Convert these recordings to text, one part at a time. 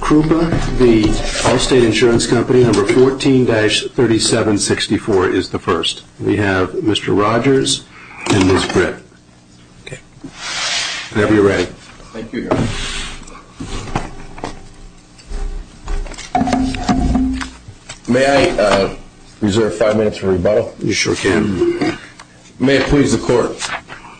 Krupa, the Allstate Insurance Company, number 14-3764 is the first. We have Mr. Rogers and Ms. Britt. Whenever you're ready. Thank you, Your Honor. May I reserve five minutes for rebuttal? You sure can. May it please the Court.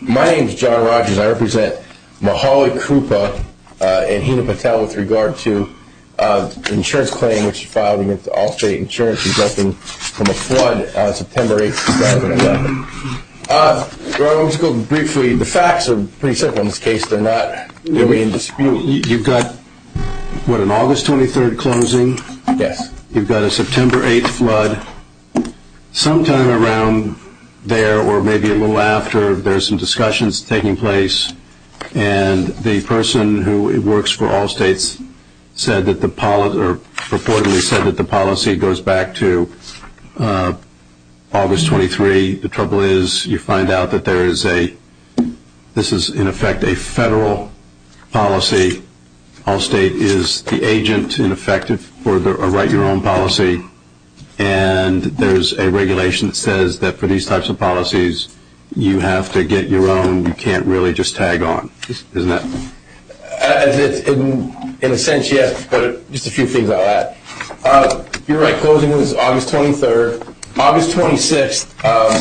My name is John Rogers. I represent Mahali Krupa and Hina Patel with regard to the insurance claim which you filed against Allstate Insurance resulting from a flood on September 8, 2011. Your Honor, let me just go briefly. The facts are pretty simple in this case. You've got what, an August 23rd closing? Yes. You've got a September 8th flood. Sometime around there or maybe a little after, there's some discussions taking place, and the person who works for Allstate reportedly said that the policy goes back to August 23. The trouble is you find out that this is, in effect, a federal policy. Allstate is the agent, in effect, for a write-your-own policy. And there's a regulation that says that for these types of policies, you have to get your own. You can't really just tag on, isn't it? In a sense, yes, but just a few things on that. You're right. Closing was August 23rd. August 26th,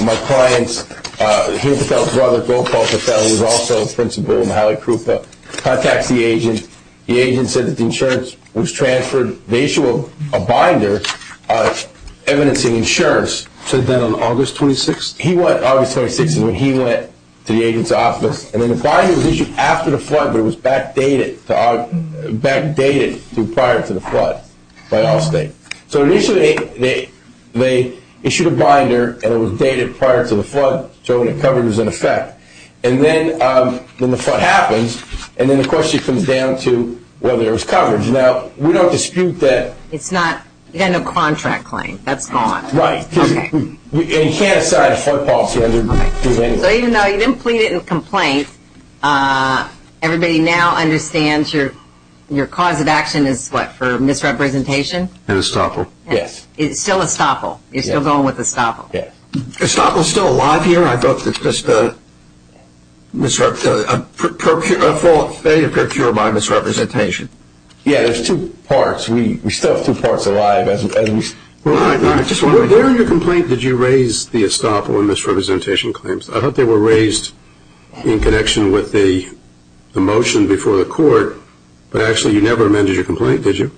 my client, Hina Patel's brother, Gopal Patel, who's also a principal at Mahali Krupa, contacts the agent. The agent said that the insurance was transferred. They issue a binder evidencing insurance. So then on August 26th? August 26th is when he went to the agent's office, and then the binder was issued after the flood, but it was backdated prior to the flood by Allstate. So initially they issued a binder, and it was dated prior to the flood, so when it covered, it was in effect. And then the flood happens, and then the question comes down to whether there was coverage. Now, we don't dispute that. It's not. You've got no contract claim. That's gone. Right. Okay. And you can't assign a flood policy under this anyway. So even though you didn't plead it in a complaint, everybody now understands your cause of action is what, for misrepresentation? And estoppel. Yes. It's still estoppel. You're still going with estoppel. Yes. Estoppel's still alive here. I thought it was just a fault made or procured by misrepresentation. Yeah, there's two parts. We still have two parts alive. Where in your complaint did you raise the estoppel and misrepresentation claims? I thought they were raised in connection with the motion before the court, but actually you never amended your complaint, did you?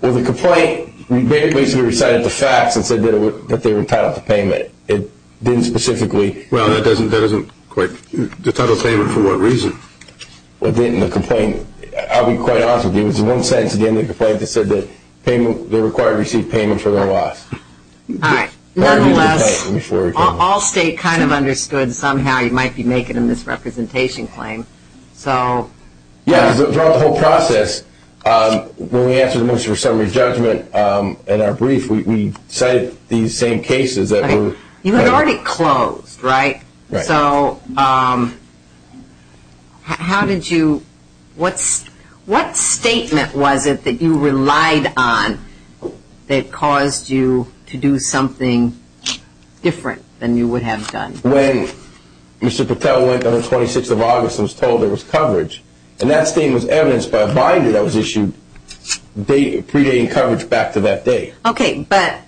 Well, the complaint basically recited the facts and said that they were entitled to payment. It didn't specifically. Well, that doesn't quite. The title of payment for what reason? Well, it didn't in the complaint. I'll be quite honest with you. It was in one sentence at the end of the complaint that said that the required received payment for their loss. All right. Nonetheless, all state kind of understood somehow you might be making a misrepresentation claim. So. Yeah, throughout the whole process, when we answered the motion for summary judgment in our brief, we cited these same cases that were. You had already closed, right? Right. So how did you, what statement was it that you relied on that caused you to do something different than you would have done? When Mr. Patel went on the 26th of August and was told there was coverage, and that statement was evidenced by a binder that was issued predating coverage back to that day. Okay. But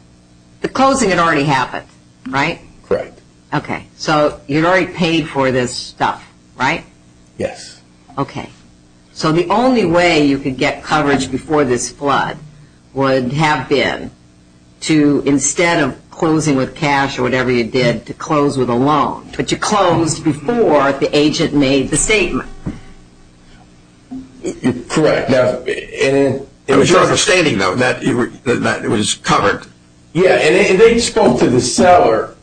the closing had already happened, right? Correct. Okay. So you had already paid for this stuff, right? Yes. Okay. So the only way you could get coverage before this flood would have been to, instead of closing with cash or whatever you did, to close with a loan. But you closed before the agent made the statement. Correct. It was your understanding, though, that it was covered. Yeah. And they spoke to the seller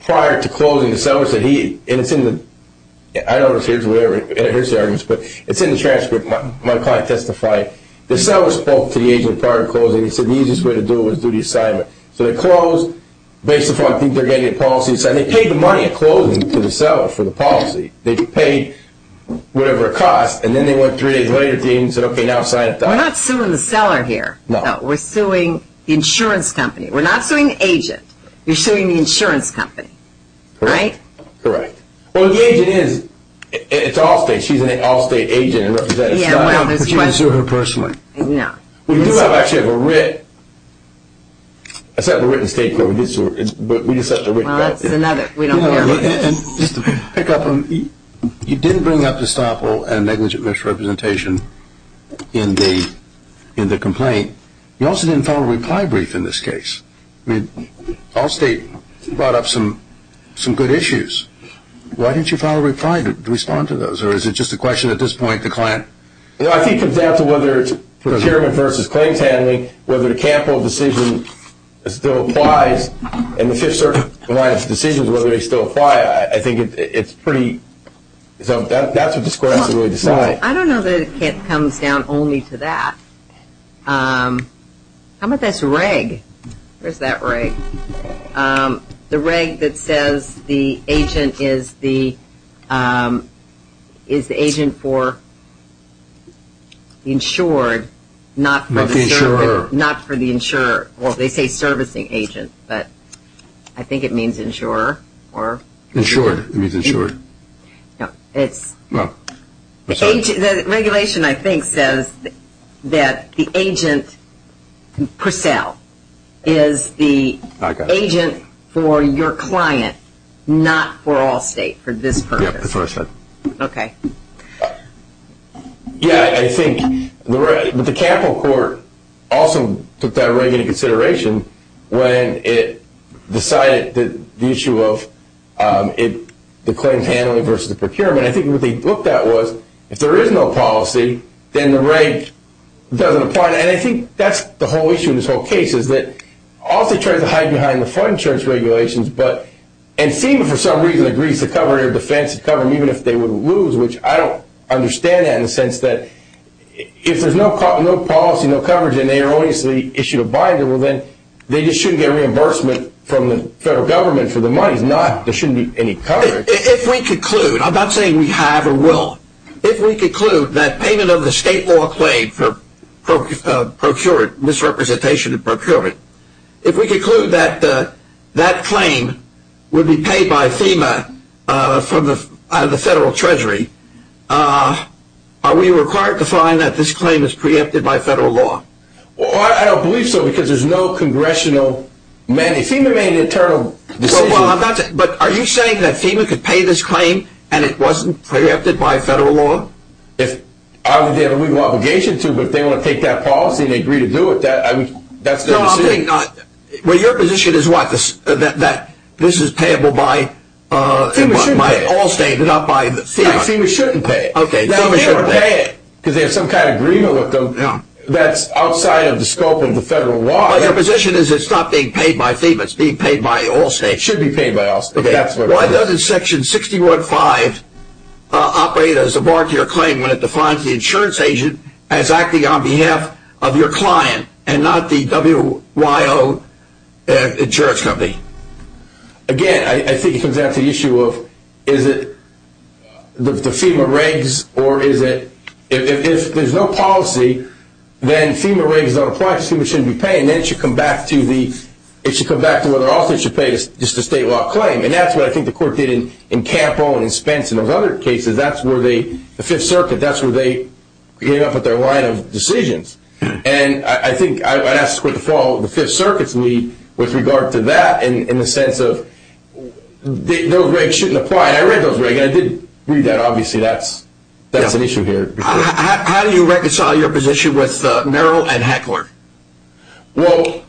prior to closing. The seller said he, and it's in the, I don't know if here's the argument, but it's in the transcript. My client testified. The seller spoke to the agent prior to closing. He said the easiest way to do it was to do the assignment. So they closed based upon things they were getting in policy. So they paid the money in closing to the seller for the policy. They paid whatever it cost, and then they went three days later to the agent and said, okay, now sign it. We're not suing the seller here. No. We're suing the insurance company. We're not suing the agent. You're suing the insurance company. Correct. Right? Correct. Well, the agent is, it's Allstate. She's an Allstate agent and representative. Yeah, well, there's your question. I'm not going to sue her personally. No. We do have actually a written, I said a written statement, but we just sent the written statement. Well, that's another. We don't care. And just to pick up on, you didn't bring up estoppel and negligent misrepresentation in the complaint. You also didn't file a reply brief in this case. I mean, Allstate brought up some good issues. Why didn't you file a reply to respond to those, or is it just a question at this point the client? You know, I think it comes down to whether it's procurement versus claims handling, whether the Campbell decision still applies, and the Fifth Circuit client's decisions, whether they still apply. I think it's pretty, so that's what the score has to really decide. I don't know that it comes down only to that. How about this reg? Where's that reg? The reg that says the agent is the agent for insured, not for the service. Not the insurer. Not for the insurer. Well, they say servicing agent, but I think it means insurer. Insured. It means insured. The regulation, I think, says that the agent per sale is the agent for your client, not for Allstate for this purpose. Yeah, that's what I said. Okay. Yeah, I think the Campbell court also took that reg into consideration when it decided that the issue of the claims handling versus the procurement. I think what they looked at was if there is no policy, then the reg doesn't apply. And I think that's the whole issue in this whole case is that Allstate tried to hide behind the fund insurance regulations, but and FEMA, for some reason, agrees to cover their defense, to cover them even if they would lose, which I don't understand that in the sense that if there's no policy, no coverage, and they are obviously issued a binder, well, then they just shouldn't get reimbursement from the federal government for their money. There shouldn't be any coverage. If we conclude, I'm not saying we have or will, if we conclude that payment of the state law claim for procurement, misrepresentation of procurement, if we conclude that that claim would be paid by FEMA out of the federal treasury, are we required to find that this claim is preempted by federal law? I don't believe so because there's no congressional mandate. FEMA made an internal decision. But are you saying that FEMA could pay this claim and it wasn't preempted by federal law? If they have a legal obligation to, but if they want to take that policy and agree to do it, that's their decision. No, I'm saying not. Well, your position is what, that this is payable by Allstate and not by FEMA? FEMA shouldn't pay it. Okay, FEMA shouldn't pay it. Because they have some kind of agreement with them that's outside of the scope of the federal law. Well, your position is it's not being paid by FEMA, it's being paid by Allstate. It should be paid by Allstate. Why doesn't Section 615 operate as a bar to your claim when it defines the insurance agent as acting on behalf of your client and not the WYO insurance company? Again, I think it comes down to the issue of is it the FEMA regs or is it, if there's no policy, then FEMA regs don't apply, FEMA shouldn't be paying. Then it should come back to the, it should come back to whether Allstate should pay just a state law claim. And that's what I think the court did in Campo and in Spence and those other cases. That's where they, the Fifth Circuit, that's where they came up with their line of decisions. And I think I'd ask for the Fifth Circuit's lead with regard to that in the sense of those regs shouldn't apply. And I read those regs and I did read that. Obviously, that's an issue here. How do you reconcile your position with Merrill and Heckler? Well,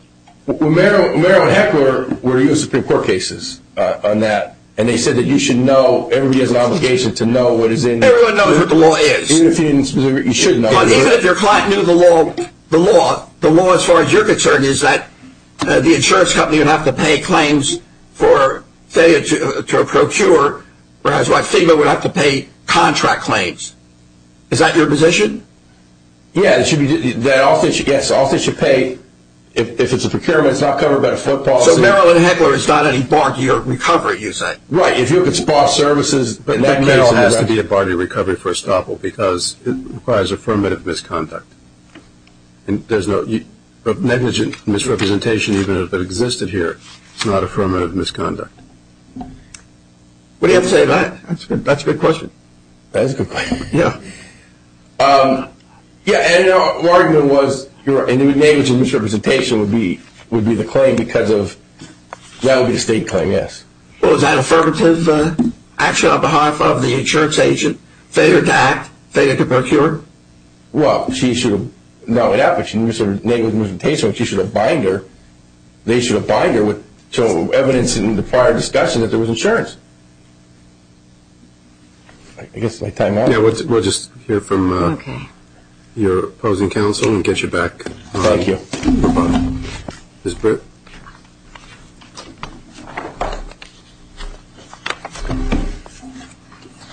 Merrill and Heckler were in the Supreme Court cases on that. And they said that you should know, everybody has an obligation to know what is in. Everyone knows what the law is. Even if you didn't specifically, you shouldn't know. Even if your client knew the law, the law as far as you're concerned is that the insurance company would have to pay claims for, say, to procure, whereas FEMA would have to pay contract claims. Is that your position? Yes, Allstate should pay if it's a procurement, it's not covered by the foot policy. So Merrill and Heckler is not any bar to your recovery, you say? Right, if you can spar services. In that case, it has to be a bar to your recovery for estoppel because it requires affirmative misconduct. There's no negligent misrepresentation even if it existed here. It's not affirmative misconduct. What do you have to say to that? That's a good question. That is a good question, yeah. Yeah, and our argument was your negligent misrepresentation would be the claim because of, that would be the state claim, yes. Well, is that affirmative action on behalf of the insurance agent? Failure to act, failure to procure? Well, she should have, not only that, but she should have, negligent misrepresentation, she should have bind her, they should have bind her with evidence in the prior discussion that there was insurance. I guess my time is up. Yeah, we'll just hear from your opposing counsel and get you back. Thank you. Ms. Britt.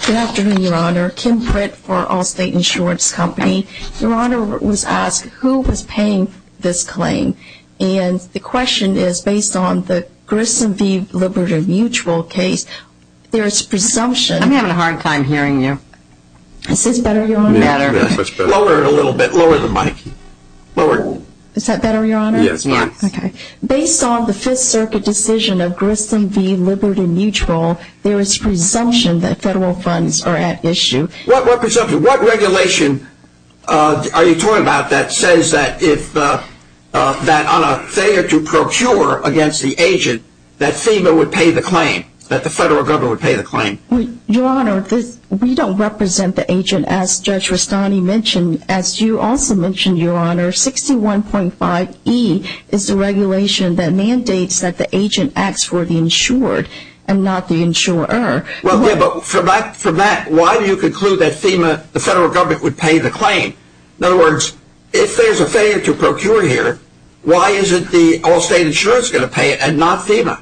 Good afternoon, Your Honor. Kim Britt for Allstate Insurance Company. Your Honor was asked who was paying this claim, and the question is, based on the Grissom v. Liberty Mutual case, there is presumption. I'm having a hard time hearing you. Is this better, Your Honor, or better? Much better. Lower it a little bit. Lower the mic. Lower it. Is that better, Your Honor? Yes. Okay. Based on the Fifth Circuit decision of Grissom v. Liberty Mutual, there is presumption that federal funds are at issue. What presumption? What regulation are you talking about that says that if, that on a failure to procure against the agent, that FEMA would pay the claim, that the federal government would pay the claim? Your Honor, we don't represent the agent, as Judge Rustani mentioned, as you also mentioned, Your Honor. 61.5E is the regulation that mandates that the agent acts for the insured and not the insurer. Well, yeah, but from that, why do you conclude that FEMA, the federal government, would pay the claim? In other words, if there's a failure to procure here, why isn't the Allstate Insurance going to pay it and not FEMA?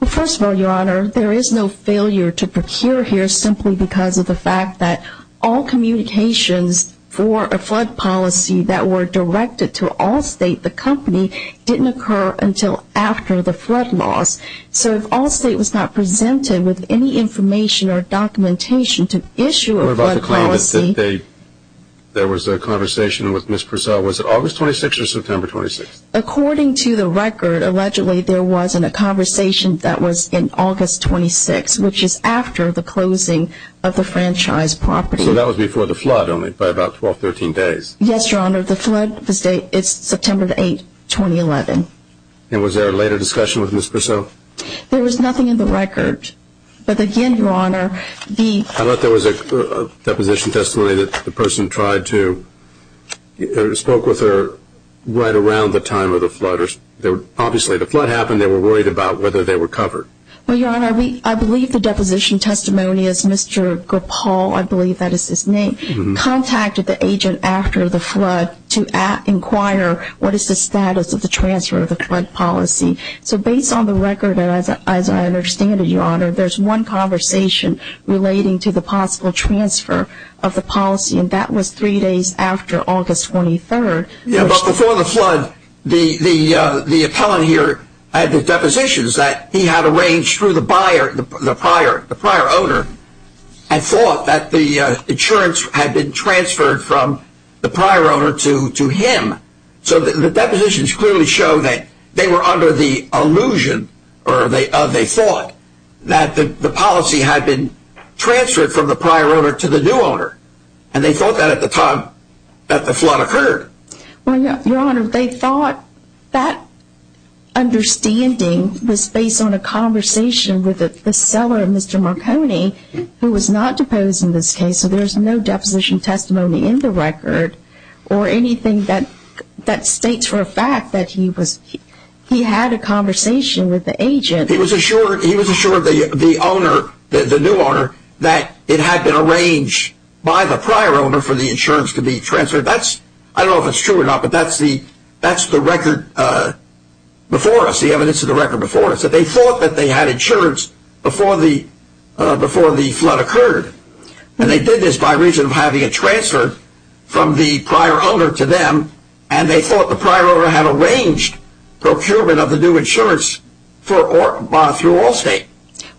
Well, first of all, Your Honor, there is no failure to procure here simply because of the fact that all communications for a flood policy that were directed to Allstate, the company, didn't occur until after the flood loss. So if Allstate was not presented with any information or documentation to issue a flood policy – What about the claim that there was a conversation with Ms. Purcell? Was it August 26th or September 26th? According to the record, allegedly there wasn't a conversation that was in August 26th, which is after the closing of the franchise property. So that was before the flood only, by about 12, 13 days? Yes, Your Honor. The flood was September 8th, 2011. And was there a later discussion with Ms. Purcell? There was nothing in the record. But again, Your Honor, the – I thought there was a deposition testimony that the person tried to – spoke with her right around the time of the flood. Obviously, the flood happened. They were worried about whether they were covered. Well, Your Honor, I believe the deposition testimony is Mr. Grapal – I believe that is his name – contacted the agent after the flood to inquire what is the status of the transfer of the flood policy. So based on the record, as I understand it, Your Honor, there's one conversation relating to the possible transfer of the policy, and that was three days after August 23rd. But before the flood, the appellant here had the depositions that he had arranged through the buyer, the prior owner, and thought that the insurance had been transferred from the prior owner to him. So the depositions clearly show that they were under the illusion, or they thought, that the policy had been transferred from the prior owner to the new owner. And they thought that at the time that the flood occurred. Well, Your Honor, they thought that understanding was based on a conversation with the seller, Mr. Marconi, who was not deposed in this case, so there's no deposition testimony in the record, or anything that states for a fact that he was – he had a conversation with the agent. He was assured the owner, the new owner, that it had been arranged by the prior owner for the insurance to be transferred. That's – I don't know if it's true or not, but that's the record before us, the evidence of the record before us, that they thought that they had insurance before the flood occurred. And they did this by reason of having it transferred from the prior owner to them, and they thought the prior owner had arranged procurement of the new insurance through Allstate.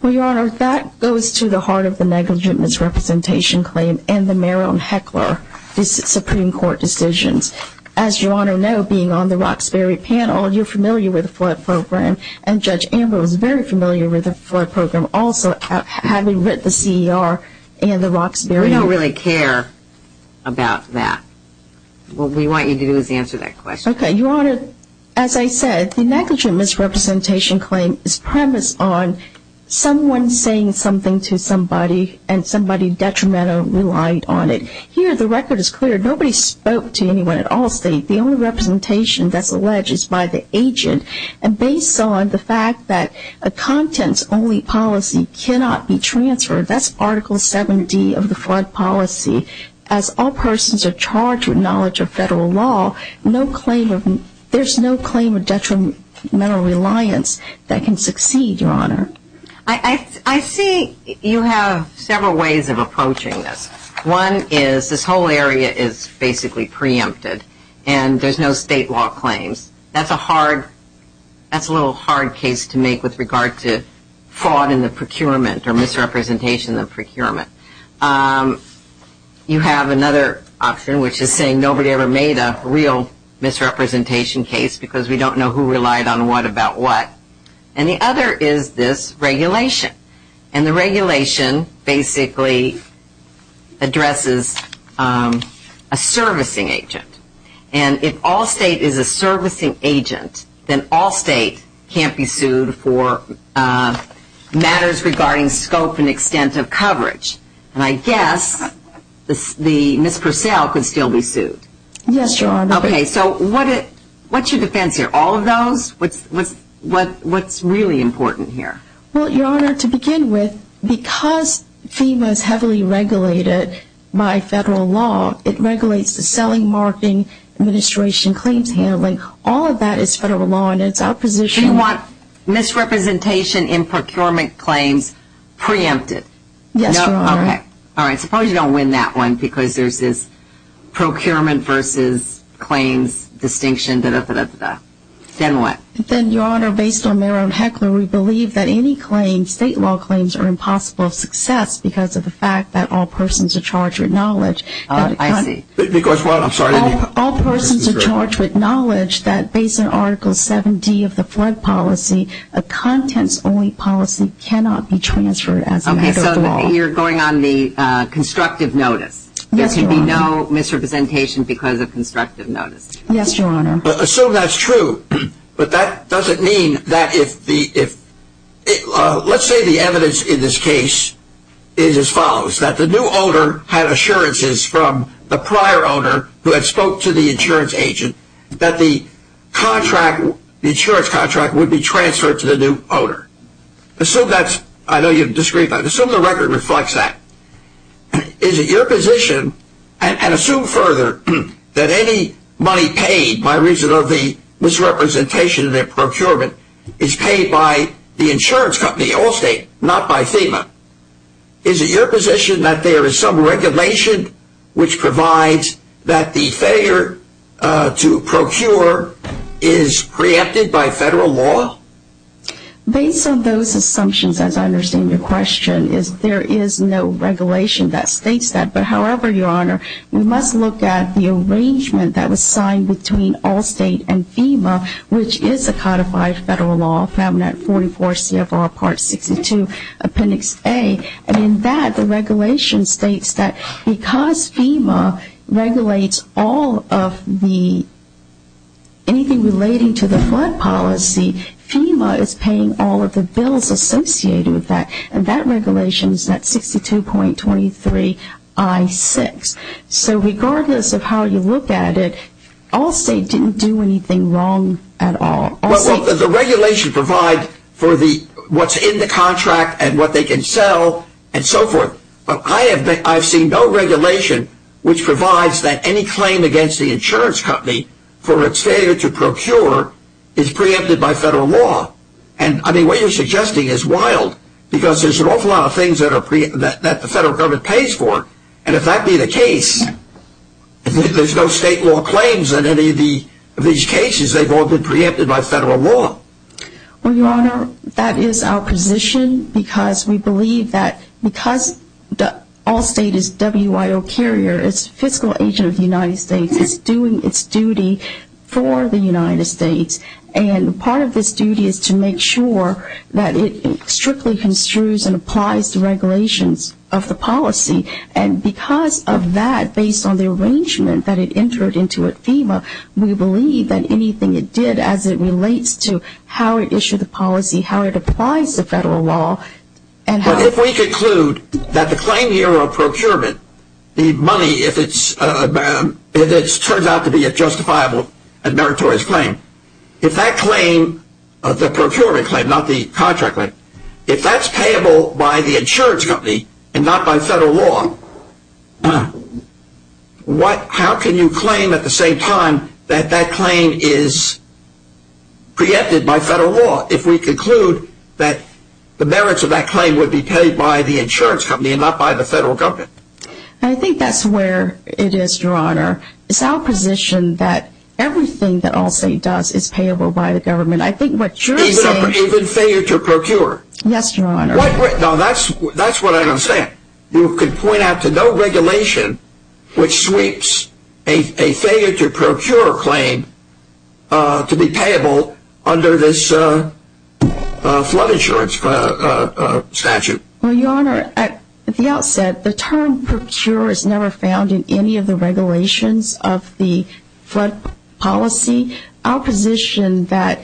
Well, Your Honor, that goes to the heart of the negligent misrepresentation claim, and the Merrill and Heckler Supreme Court decisions. As Your Honor knows, being on the Roxbury panel, you're familiar with the flood program, and Judge Amber was very familiar with the flood program also, having read the C.E.R. and the Roxbury – We don't really care about that. What we want you to do is answer that question. Okay. Your Honor, as I said, the negligent misrepresentation claim is premised on someone saying something to somebody, and somebody detrimentally relied on it. Here, the record is clear. Nobody spoke to anyone at Allstate. The only representation that's alleged is by the agent, and based on the fact that a contents-only policy cannot be transferred – that's Article 7D of the flood policy – as all persons are charged with knowledge of federal law, there's no claim of detrimental reliance that can succeed, Your Honor. I see you have several ways of approaching this. One is this whole area is basically preempted, and there's no state law claims. That's a little hard case to make with regard to fraud in the procurement or misrepresentation in the procurement. You have another option, which is saying nobody ever made a real misrepresentation case because we don't know who relied on what about what. And the other is this regulation, and the regulation basically addresses a servicing agent. And if Allstate is a servicing agent, then Allstate can't be sued for matters regarding scope and extent of coverage. And I guess Ms. Purcell could still be sued. Yes, Your Honor. Okay, so what's your defense here? All of those? What's really important here? Well, Your Honor, to begin with, because FEMA is heavily regulated by federal law, it regulates the selling, marketing, administration, claims handling. All of that is federal law, and it's our position. Do you want misrepresentation in procurement claims preempted? Yes, Your Honor. Okay. All right. Suppose you don't win that one because there's this procurement versus claims distinction, da-da-da-da-da-da. Then what? Then, Your Honor, based on Merrill and Heckler, we believe that any claims, state law claims, are impossible of success because of the fact that all persons are charged with knowledge. I see. Because what? I'm sorry. All persons are charged with knowledge that based on Article 7D of the flood policy, a contents-only policy cannot be transferred as a matter of law. Okay, so you're going on the constructive notice. Yes, Your Honor. There should be no misrepresentation because of constructive notice. Yes, Your Honor. Assume that's true, but that doesn't mean that if the – let's say the evidence in this case is as follows, that the new owner had assurances from the prior owner who had spoke to the insurance agent that the insurance contract would be transferred to the new owner. Assume that's – I know you disagree, but assume the record reflects that. Is it your position, and assume further, that any money paid by reason of the misrepresentation in their procurement is paid by the insurance company, Allstate, not by FEMA? Is it your position that there is some regulation which provides that the failure to procure is preempted by federal law? Based on those assumptions, as I understand your question, is there is no regulation that states that. But however, Your Honor, we must look at the arrangement that was signed between Allstate and FEMA, which is a codified federal law found at 44 CFR Part 62, Appendix A. And in that, the regulation states that because FEMA regulates all of the – FEMA is paying all of the bills associated with that. And that regulation is at 62.23 I-6. So regardless of how you look at it, Allstate didn't do anything wrong at all. Well, the regulation provides for the – what's in the contract and what they can sell and so forth. But I have seen no regulation which provides that any claim against the insurance company for its failure to procure is preempted by federal law. And, I mean, what you're suggesting is wild because there's an awful lot of things that the federal government pays for. And if that be the case, there's no state law claims in any of these cases. They've all been preempted by federal law. Well, Your Honor, that is our position because we believe that because Allstate is WIO carrier, it's fiscal agent of the United States, it's doing its duty for the United States. And part of this duty is to make sure that it strictly construes and applies the regulations of the policy. And because of that, based on the arrangement that it entered into at FEMA, we believe that anything it did as it relates to how it issued the policy, how it applies to federal law, and how – if we conclude that the claim here of procurement, the money, if it turns out to be a justifiable and meritorious claim, if that claim, the procurement claim, not the contract claim, if that's payable by the insurance company and not by federal law, how can you claim at the same time that that claim is preempted by federal law if we conclude that the merits of that claim would be paid by the insurance company and not by the federal government? I think that's where it is, Your Honor. It's our position that everything that Allstate does is payable by the government. I think what you're saying – Even failure to procure? Yes, Your Honor. No, that's what I don't understand. You could point out to no regulation which sweeps a failure to procure claim to be payable under this flood insurance statute. Well, Your Honor, at the outset, the term procure is never found in any of the regulations of the flood policy. I think it's our position that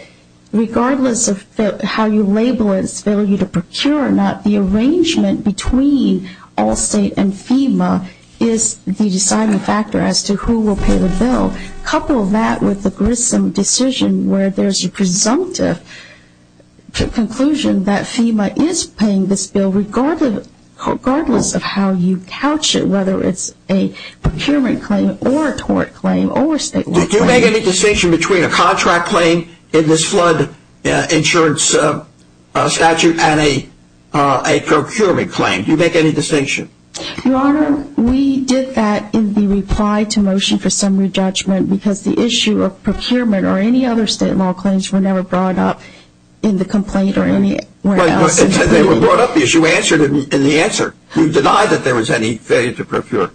regardless of how you label its failure to procure or not, the arrangement between Allstate and FEMA is the deciding factor as to who will pay the bill. Couple that with the Grissom decision where there's a presumptive conclusion that FEMA is paying this bill regardless of how you couch it, whether it's a procurement claim or a tort claim or a statewide claim. Did you make any distinction between a contract claim in this flood insurance statute and a procurement claim? Did you make any distinction? Your Honor, we did that in the reply to motion for summary judgment because the issue of procurement or any other state law claims were never brought up in the complaint or anywhere else. They were brought up because you answered in the answer. You denied that there was any failure to procure.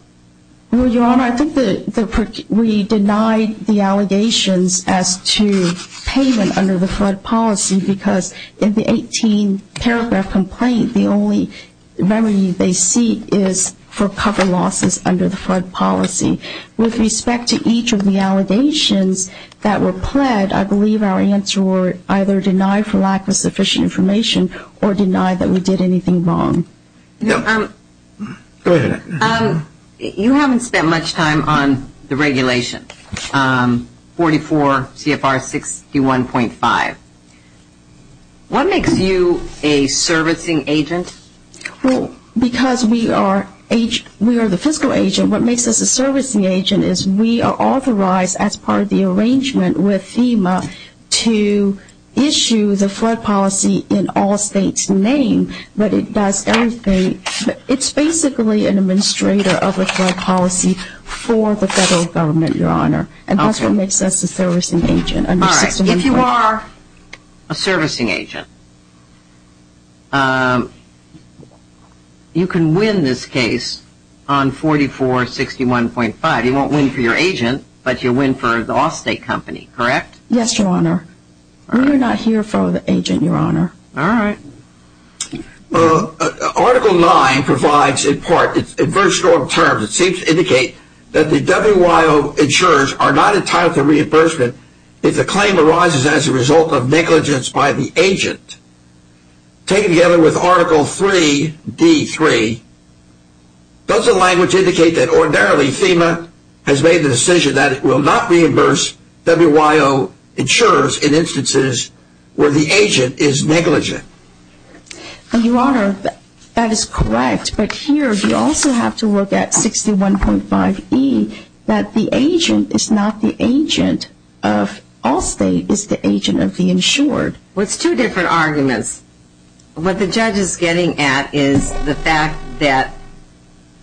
Well, Your Honor, I think that we denied the allegations as to payment under the flood policy because in the 18-paragraph complaint, the only remedy they seek is for cover losses under the flood policy. With respect to each of the allegations that were pled, I believe our answer were either denied for lack of sufficient information or denied that we did anything wrong. Go ahead. You haven't spent much time on the regulation, 44 CFR 61.5. What makes you a servicing agent? Well, because we are the fiscal agent, what makes us a servicing agent is we are authorized as part of the arrangement with FEMA to issue the flood policy in all states' name. But it does everything. It's basically an administrator of a flood policy for the federal government, Your Honor. And that's what makes us a servicing agent. All right. If you are a servicing agent, you can win this case on 44 CFR 61.5. You won't win for your agent, but you'll win for the off-state company, correct? Yes, Your Honor. We are not here for the agent, Your Honor. All right. Article 9 provides in part, in very strong terms, it seems to indicate that the WYO insurers are not entitled to reimbursement if the claim arises as a result of negligence by the agent. Taken together with Article 3D3, does the language indicate that ordinarily FEMA has made the decision that it will not reimburse WYO insurers in instances where the agent is negligent? Your Honor, that is correct. But here you also have to look at 61.5E, that the agent is not the agent of all states. It's the agent of the insured. Well, it's two different arguments. What the judge is getting at is the fact that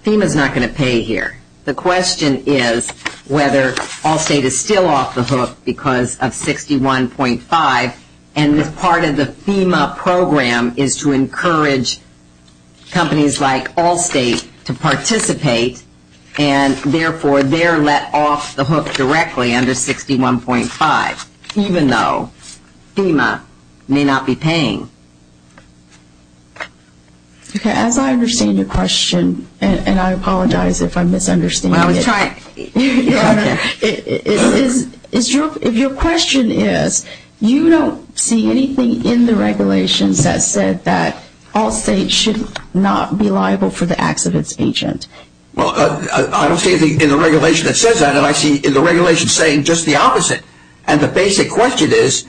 FEMA is not going to pay here. The question is whether all state is still off the hook because of 61.5, and this part of the FEMA program is to encourage companies like Allstate to participate, and therefore they're let off the hook directly under 61.5, even though FEMA may not be paying. Okay. As I understand your question, and I apologize if I'm misunderstanding it. Well, I was trying. If your question is, you don't see anything in the regulations that said that Allstate should not be liable for the acts of its agent. Well, I don't see anything in the regulation that says that, and I see in the regulation saying just the opposite. And the basic question is,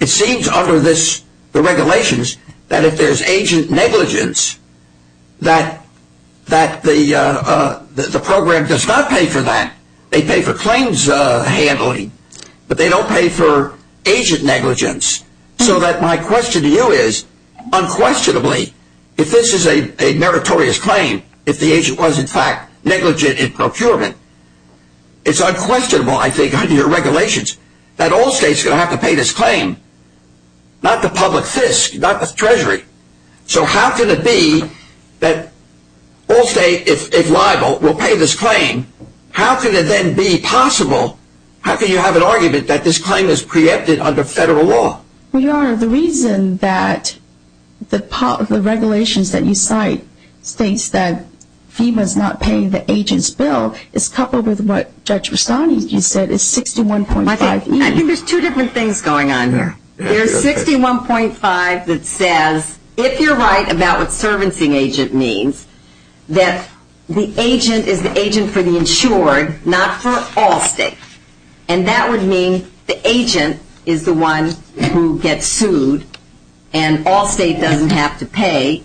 it seems under the regulations that if there's agent negligence, that the program does not pay for that. They pay for claims handling, but they don't pay for agent negligence. So that my question to you is, unquestionably, if this is a meritorious claim, if the agent was in fact negligent in procurement, it's unquestionable, I think, under your regulations, that Allstate's going to have to pay this claim, not the public FISC, not the Treasury. So how can it be that Allstate, if liable, will pay this claim? How can it then be possible, how can you have an argument that this claim is preempted under federal law? Well, Your Honor, the reason that the regulations that you cite states that FEMA's not paying the agent's bill is coupled with what Judge Rastani, you said, is 61.5E. I think there's two different things going on here. There's 61.5 that says, if you're right about what servicing agent means, that the agent is the agent for the insured, not for Allstate. And that would mean the agent is the one who gets sued, and Allstate doesn't have to pay,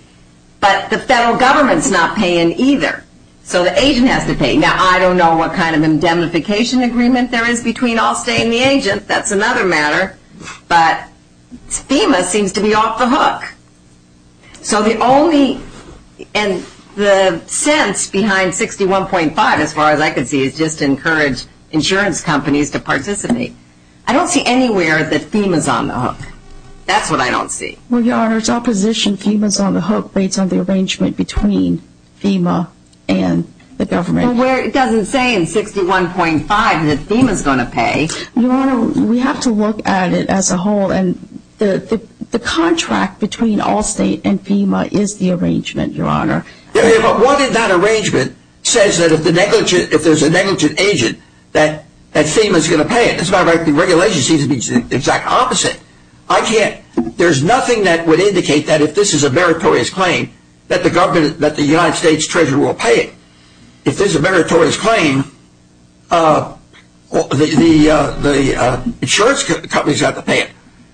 but the federal government's not paying either. So the agent has to pay. Now, I don't know what kind of indemnification agreement there is between Allstate and the agent. That's another matter. But FEMA seems to be off the hook. So the only, and the sense behind 61.5, as far as I can see, is just to encourage insurance companies to participate. I don't see anywhere that FEMA's on the hook. That's what I don't see. Well, Your Honor, it's opposition. FEMA's on the hook based on the arrangement between FEMA and the government. Well, where it doesn't say in 61.5 that FEMA's going to pay. Your Honor, we have to look at it as a whole, and the contract between Allstate and FEMA is the arrangement, Your Honor. Yeah, but what if that arrangement says that if there's a negligent agent that FEMA's going to pay it? That's not right. The regulation seems to be the exact opposite. I can't. There's nothing that would indicate that if this is a meritorious claim that the government, that the United States Treasury will pay it. If this is a meritorious claim, the insurance companies have to pay it.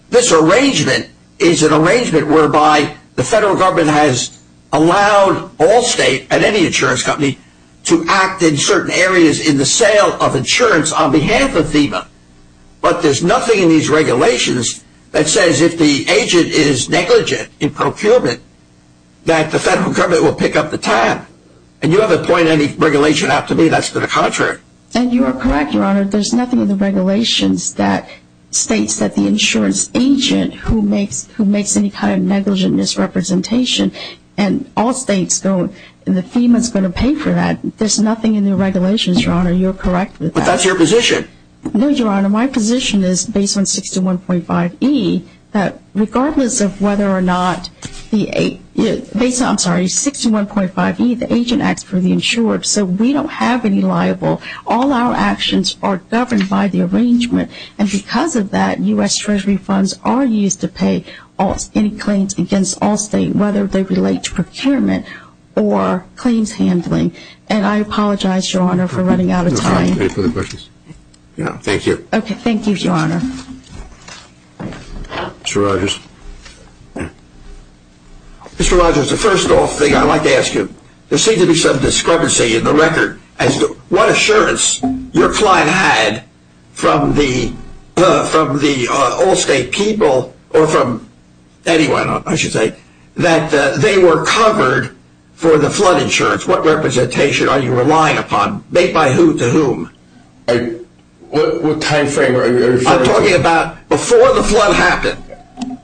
This arrangement is an arrangement whereby the federal government has allowed Allstate and any insurance company to act in certain areas in the sale of insurance on behalf of FEMA. But there's nothing in these regulations that says if the agent is negligent in procurement, that the federal government will pick up the tab. And you have to point any regulation out to me that's to the contrary. And you are correct, Your Honor. There's nothing in the regulations that states that the insurance agent who makes any kind of negligent misrepresentation, and Allstate's going, and FEMA's going to pay for that. There's nothing in the regulations, Your Honor. You're correct with that. But that's your position. No, Your Honor. My position is, based on 61.5E, that regardless of whether or not the agent acts for the insured, so we don't have any liable, all our actions are governed by the arrangement. And because of that, U.S. Treasury funds are used to pay any claims against Allstate, whether they relate to procurement or claims handling. And I apologize, Your Honor, for running out of time. Any further questions? Thank you. Thank you, Your Honor. Mr. Rogers. Mr. Rogers, the first thing I'd like to ask you, there seems to be some discrepancy in the record as to what assurance your client had from the Allstate people, or from anyone, I should say, that they were covered for the flood insurance. What representation are you relying upon? Made by who to whom? What time frame are you referring to? I'm talking about before the flood happened.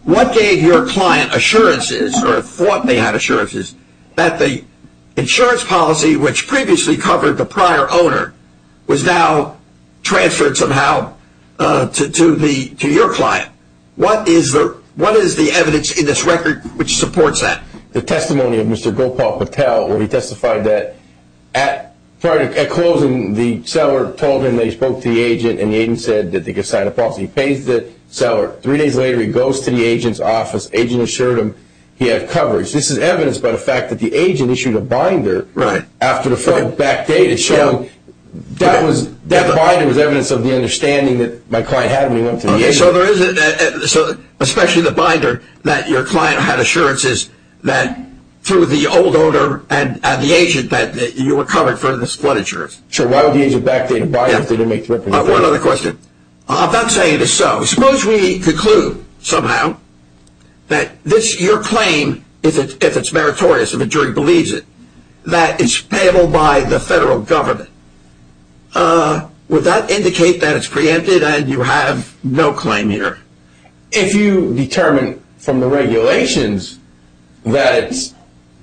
What gave your client assurances, or thought they had assurances, that the insurance policy, which previously covered the prior owner, was now transferred somehow to your client? What is the evidence in this record which supports that? The testimony of Mr. Gopal Patel, where he testified that prior to closing, the seller told him that he spoke to the agent, and the agent said that they could sign a policy. He pays the seller. Three days later, he goes to the agent's office. The agent assured him he had coverage. This is evidence by the fact that the agent issued a binder after the flood backdated, showing that that binder was evidence of the understanding that my client had when he went to the agent. Especially the binder that your client had assurances that through the old owner and the agent that you were covered for the flood insurance. So why would the agent backdate a binder if they didn't make the representation? One other question. I'm not saying it is so. Suppose we conclude somehow that your claim, if it's meritorious, if a jury believes it, that it's payable by the federal government. Would that indicate that it's preempted and you have no claim here? If you determine from the regulations that it's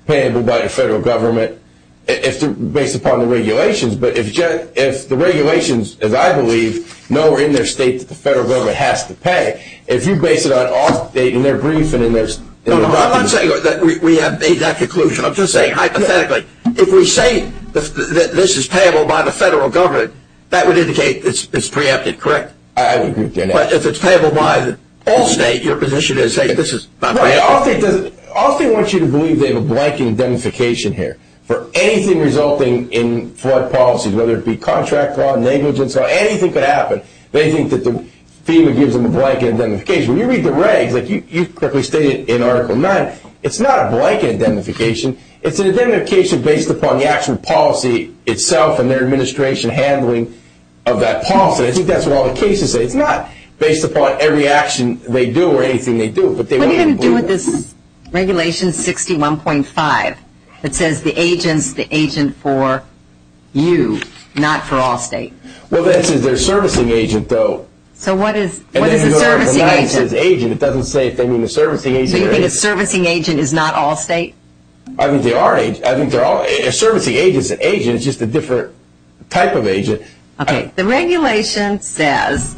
payable by the federal government, based upon the regulations, but if the regulations, as I believe, know in their state that the federal government has to pay, if you base it on off the date in their brief and in their document. No, I'm not saying that we have made that conclusion. I'm just saying hypothetically. If we say that this is payable by the federal government, that would indicate it's preempted, correct? I would agree with you on that. But if it's payable by all state, your position is to say this is not payable? Well, Allstate wants you to believe they have a blank indemnification here for anything resulting in flood policies, whether it be contract law, negligence law, anything could happen. They think that FEMA gives them a blank indemnification. When you read the regs, like you quickly stated in Article 9, it's not a blank indemnification. It's an indemnification based upon the actual policy itself and their administration handling of that policy. I think that's what all the cases say. It's not based upon every action they do or anything they do. What are you going to do with this Regulation 61.5 that says the agent is the agent for you, not for Allstate? Well, this is their servicing agent, though. So what is the servicing agent? In Article 9 it says agent. It doesn't say if they mean the servicing agent. So you think a servicing agent is not Allstate? I think they are agents. A servicing agent is an agent. It's just a different type of agent. Okay. The Regulation says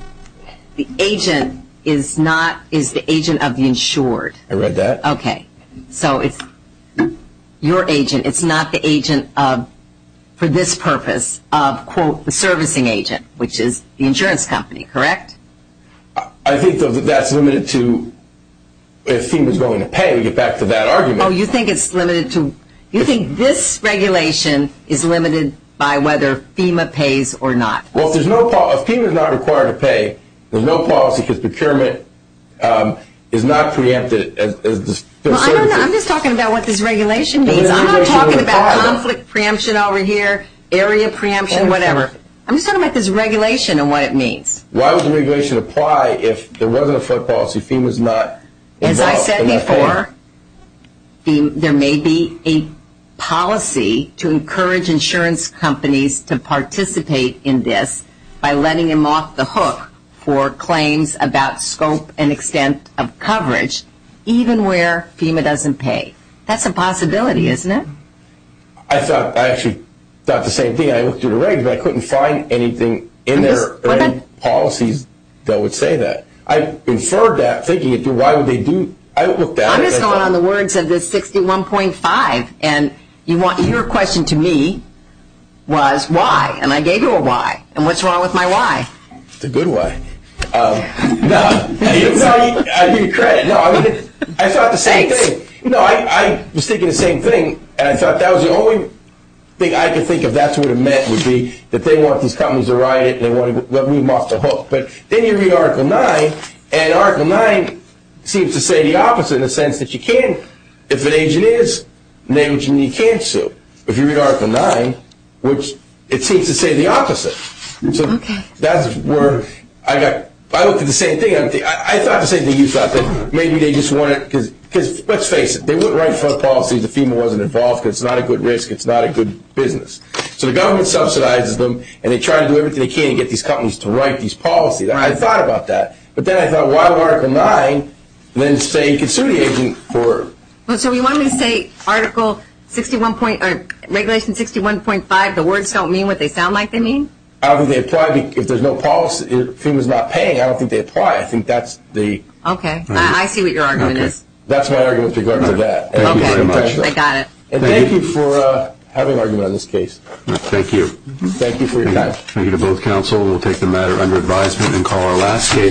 the agent is the agent of the insured. I read that. Okay. So it's your agent. It's not the agent for this purpose of, quote, the servicing agent, which is the insurance company, correct? I think that that's limited to if FEMA is going to pay. We get back to that argument. Oh, you think it's limited to? You think this regulation is limited by whether FEMA pays or not? Well, if FEMA is not required to pay, there's no policy because procurement is not preempted. I'm just talking about what this regulation means. I'm not talking about conflict preemption over here, area preemption, whatever. I'm just talking about this regulation and what it means. Why would the regulation apply if there wasn't a FOIA policy, FEMA is not involved? As I said before, there may be a policy to encourage insurance companies to participate in this by letting them off the hook for claims about scope and extent of coverage, even where FEMA doesn't pay. That's a possibility, isn't it? I actually thought the same thing. I looked through the regs, but I couldn't find anything in their policies that would say that. I inferred that thinking, why would they do that? I looked at it. I'm just going on the words of this 61.5, and your question to me was why, and I gave you a why. What's wrong with my why? It's a good why. I give you credit. I thought the same thing. Thanks. No, I was thinking the same thing, and I thought that was the only thing I could think of that would have meant would be that they want these companies to ride it, and they want to let them off the hook. But then you read Article 9, and Article 9 seems to say the opposite in the sense that you can't, if an agent is an agent, you can't sue. But if you read Article 9, which it seems to say the opposite. Okay. So that's where I got, I looked at the same thing. I thought the same thing you thought, that maybe they just wanted, because let's face it, they wouldn't write policies if FEMA wasn't involved because it's not a good risk. It's not a good business. So the government subsidizes them, and they try to do everything they can to get these companies to write these policies. I thought about that, but then I thought, why would Article 9 then say you can sue the agent for? So you want me to say Article 61.5, the words don't mean what they sound like they mean? I don't think they apply. If there's no policy, FEMA's not paying, I don't think they apply. I think that's the... Okay. I see what your argument is. That's my argument with regard to that. Okay. I got it. And thank you for having an argument on this case. Thank you. Thank you for your time. Thank you to both counsel. We'll take the matter under advisement and call our last case.